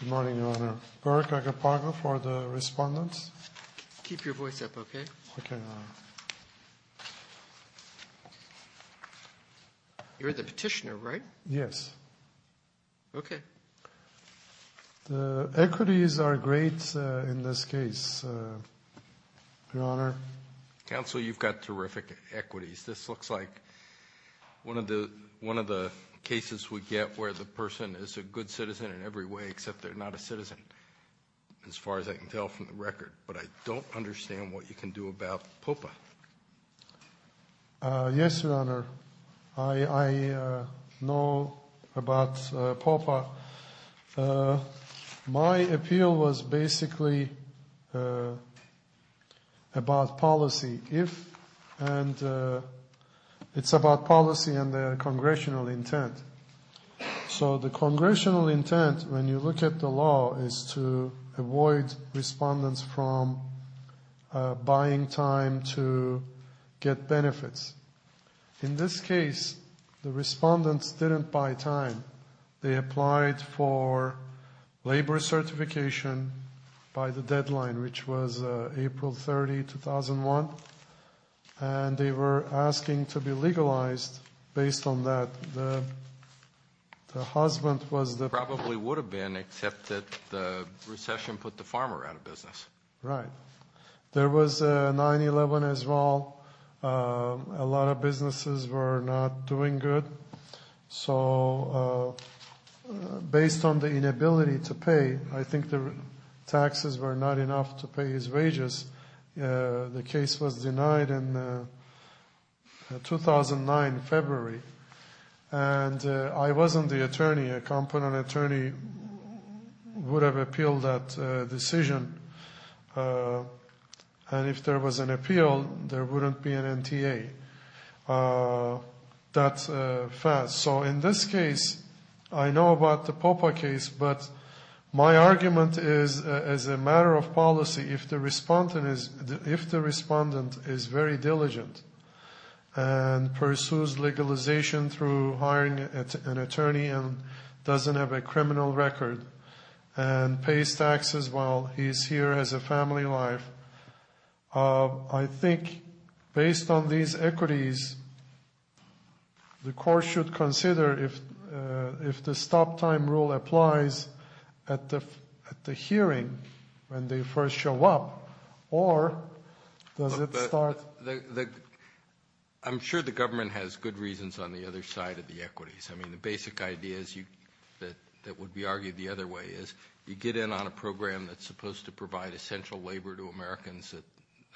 Good morning, Your Honor. Burke Agapago for the respondents. Keep your voice up, okay? Okay, Your Honor. You're the petitioner, right? Yes. Okay. The equities are great in this case, Your Honor. Counsel, you've got terrific equities. This looks like one of the cases we get where the person is a good citizen in every way except they're not a citizen, as far as I can tell from the record. But I don't understand what you can do about POPA. Yes, Your Honor. I know about POPA. My appeal was basically about policy. It's about policy and the congressional intent. So the congressional intent, when you look at the law, is to avoid respondents from buying time to get benefits. In this case, the respondents didn't buy time. They applied for labor certification by the deadline, which was April 30, 2001, and they were asking to be legalized based on that. The husband was the- Probably would have been, except that the recession put the farmer out of business. Right. There was 9-11 as well. A lot of businesses were not doing good. So based on the inability to pay, I think the taxes were not enough to pay his wages. The case was denied in 2009, February. And I wasn't the attorney. A competent attorney would have appealed that decision. And if there was an appeal, there wouldn't be an NTA. So in this case, I know about the POPA case. But my argument is, as a matter of policy, if the respondent is very diligent and pursues legalization through hiring an attorney and doesn't have a criminal record and pays taxes while he's here as a family life, I think based on these equities, the court should consider if the stop time rule applies at the hearing when they first show up, or does it start- I'm sure the government has good reasons on the other side of the equities. I mean, the basic idea that would be argued the other way is you get in on a program that's supposed to provide essential labor to Americans that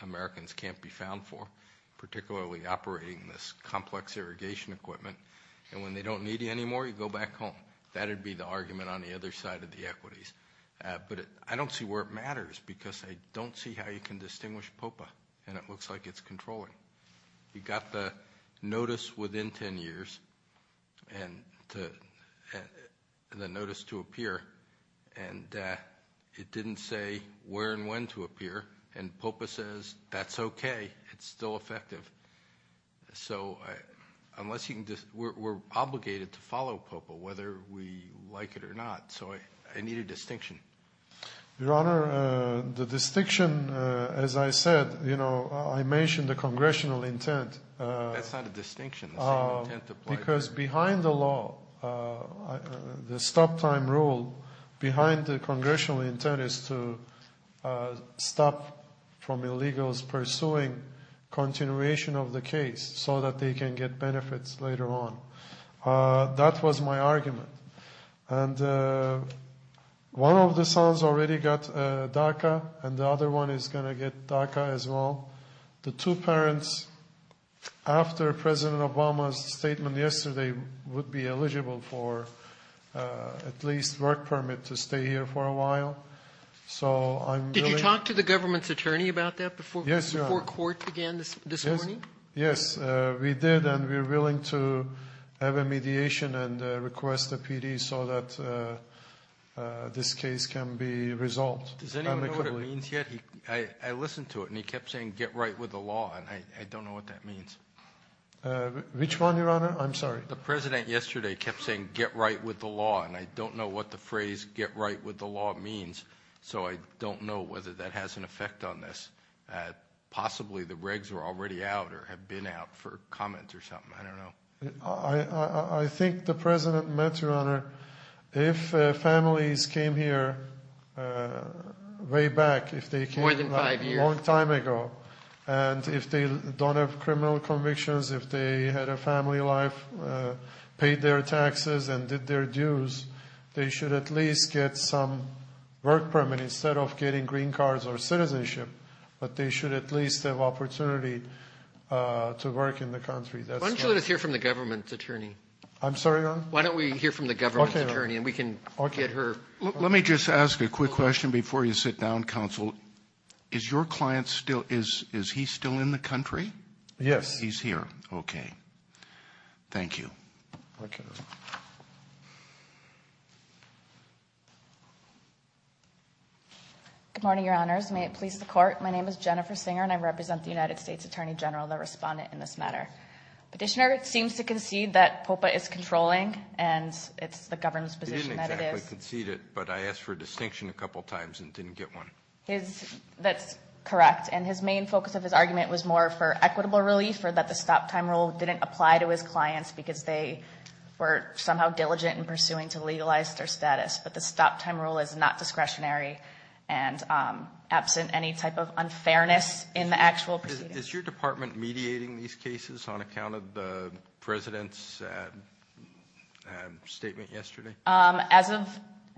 Americans can't be found for, particularly operating this complex irrigation equipment. And when they don't need you anymore, you go back home. That would be the argument on the other side of the equities. But I don't see where it matters because I don't see how you can distinguish POPA. And it looks like it's controlling. You got the notice within 10 years and the notice to appear, and it didn't say where and when to appear. And POPA says that's okay. It's still effective. So we're obligated to follow POPA, whether we like it or not. So I need a distinction. Your Honor, the distinction, as I said, you know, I mentioned the congressional intent. That's not a distinction. Because behind the law, the stop time rule behind the congressional intent is to stop from illegals pursuing continuation of the case so that they can get benefits later on. That was my argument. And one of the sons already got DACA, and the other one is going to get DACA as well. The two parents, after President Obama's statement yesterday, would be eligible for at least work permit to stay here for a while. So I'm willing to… Did you talk to the government's attorney about that before court again this morning? Yes, Your Honor. We're willing to have a mediation and request a PD so that this case can be resolved amicably. Does anyone know what it means yet? I listened to it, and he kept saying get right with the law, and I don't know what that means. Which one, Your Honor? I'm sorry. The President yesterday kept saying get right with the law, and I don't know what the phrase get right with the law means. So I don't know whether that has an effect on this. Possibly the regs are already out or have been out for comment or something. I don't know. I think the President meant, Your Honor, if families came here way back, if they came a long time ago, and if they don't have criminal convictions, if they had a family life, paid their taxes and did their dues, they should at least get some work permit instead of getting green cards or citizenship. But they should at least have opportunity to work in the country. Why don't you let us hear from the government's attorney? I'm sorry, Your Honor? Why don't we hear from the government's attorney, and we can get her. Let me just ask a quick question before you sit down, counsel. Is your client still – is he still in the country? Yes. He's here. Okay. Thank you. Okay. Good morning, Your Honors. May it please the Court. My name is Jennifer Singer, and I represent the United States Attorney General, the respondent in this matter. Petitioner seems to concede that POPA is controlling, and it's the government's position that it is. He didn't exactly concede it, but I asked for a distinction a couple times and didn't get one. That's correct. And his main focus of his argument was more for equitable relief or that the stop-time rule didn't apply to his clients because they were somehow diligent in pursuing to legalize their status. But the stop-time rule is not discretionary and absent any type of unfairness in the actual proceedings. Is your department mediating these cases on account of the President's statement yesterday? As of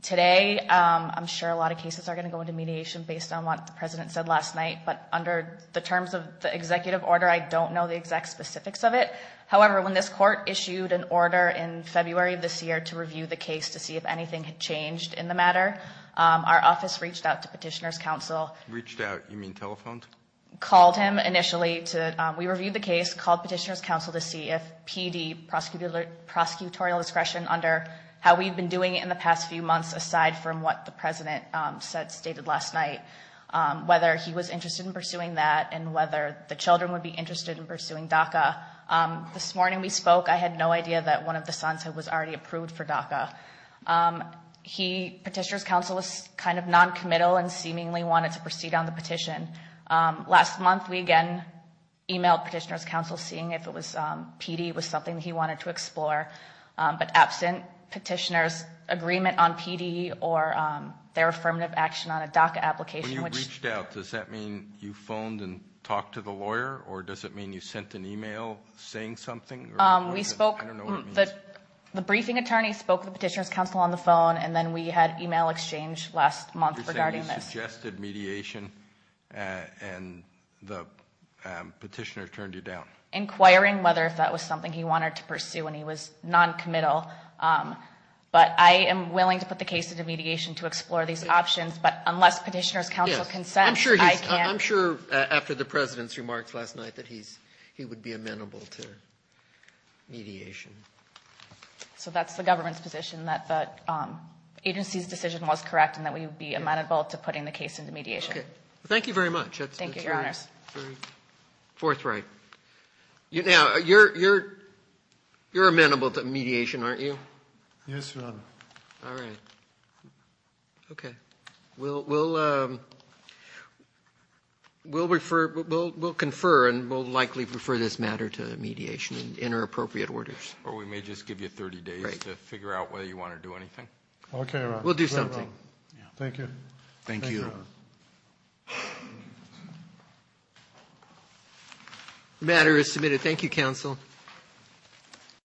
today, I'm sure a lot of cases are going to go into mediation based on what the President said last night. But under the terms of the executive order, I don't know the exact specifics of it. However, when this Court issued an order in February of this year to review the case to see if anything had changed in the matter, our office reached out to Petitioner's counsel. Reached out. You mean telephoned? Called him initially. We reviewed the case, called Petitioner's counsel to see if PD, prosecutorial discretion, under how we've been doing it in the past few months aside from what the President said, stated last night, whether he was interested in pursuing that and whether the children would be interested in pursuing DACA. This morning we spoke. I had no idea that one of the sons was already approved for DACA. Petitioner's counsel was kind of noncommittal and seemingly wanted to proceed on the petition. Last month we again emailed Petitioner's counsel seeing if PD was something he wanted to explore. But absent Petitioner's agreement on PD or their affirmative action on a DACA application. When you reached out, does that mean you phoned and talked to the lawyer? Or does it mean you sent an email saying something? We spoke. I don't know what it means. The briefing attorney spoke with Petitioner's counsel on the phone, and then we had email exchange last month regarding this. You're saying you suggested mediation and the Petitioner turned you down. Inquiring whether if that was something he wanted to pursue and he was noncommittal. But I am willing to put the case into mediation to explore these options. But unless Petitioner's counsel consents, I can't. I'm sure after the President's remarks last night that he would be amenable to mediation. So that's the government's position, that the agency's decision was correct and that we would be amenable to putting the case into mediation. Thank you very much. Thank you, Your Honors. Fourth right. Now, you're amenable to mediation, aren't you? Yes, Your Honor. All right. Okay. We'll confer and we'll likely refer this matter to mediation in our appropriate orders. Or we may just give you 30 days to figure out whether you want to do anything. Okay, Your Honor. We'll do something. Thank you. Thank you. Thank you, Your Honor. The matter is submitted. Thank you, counsel.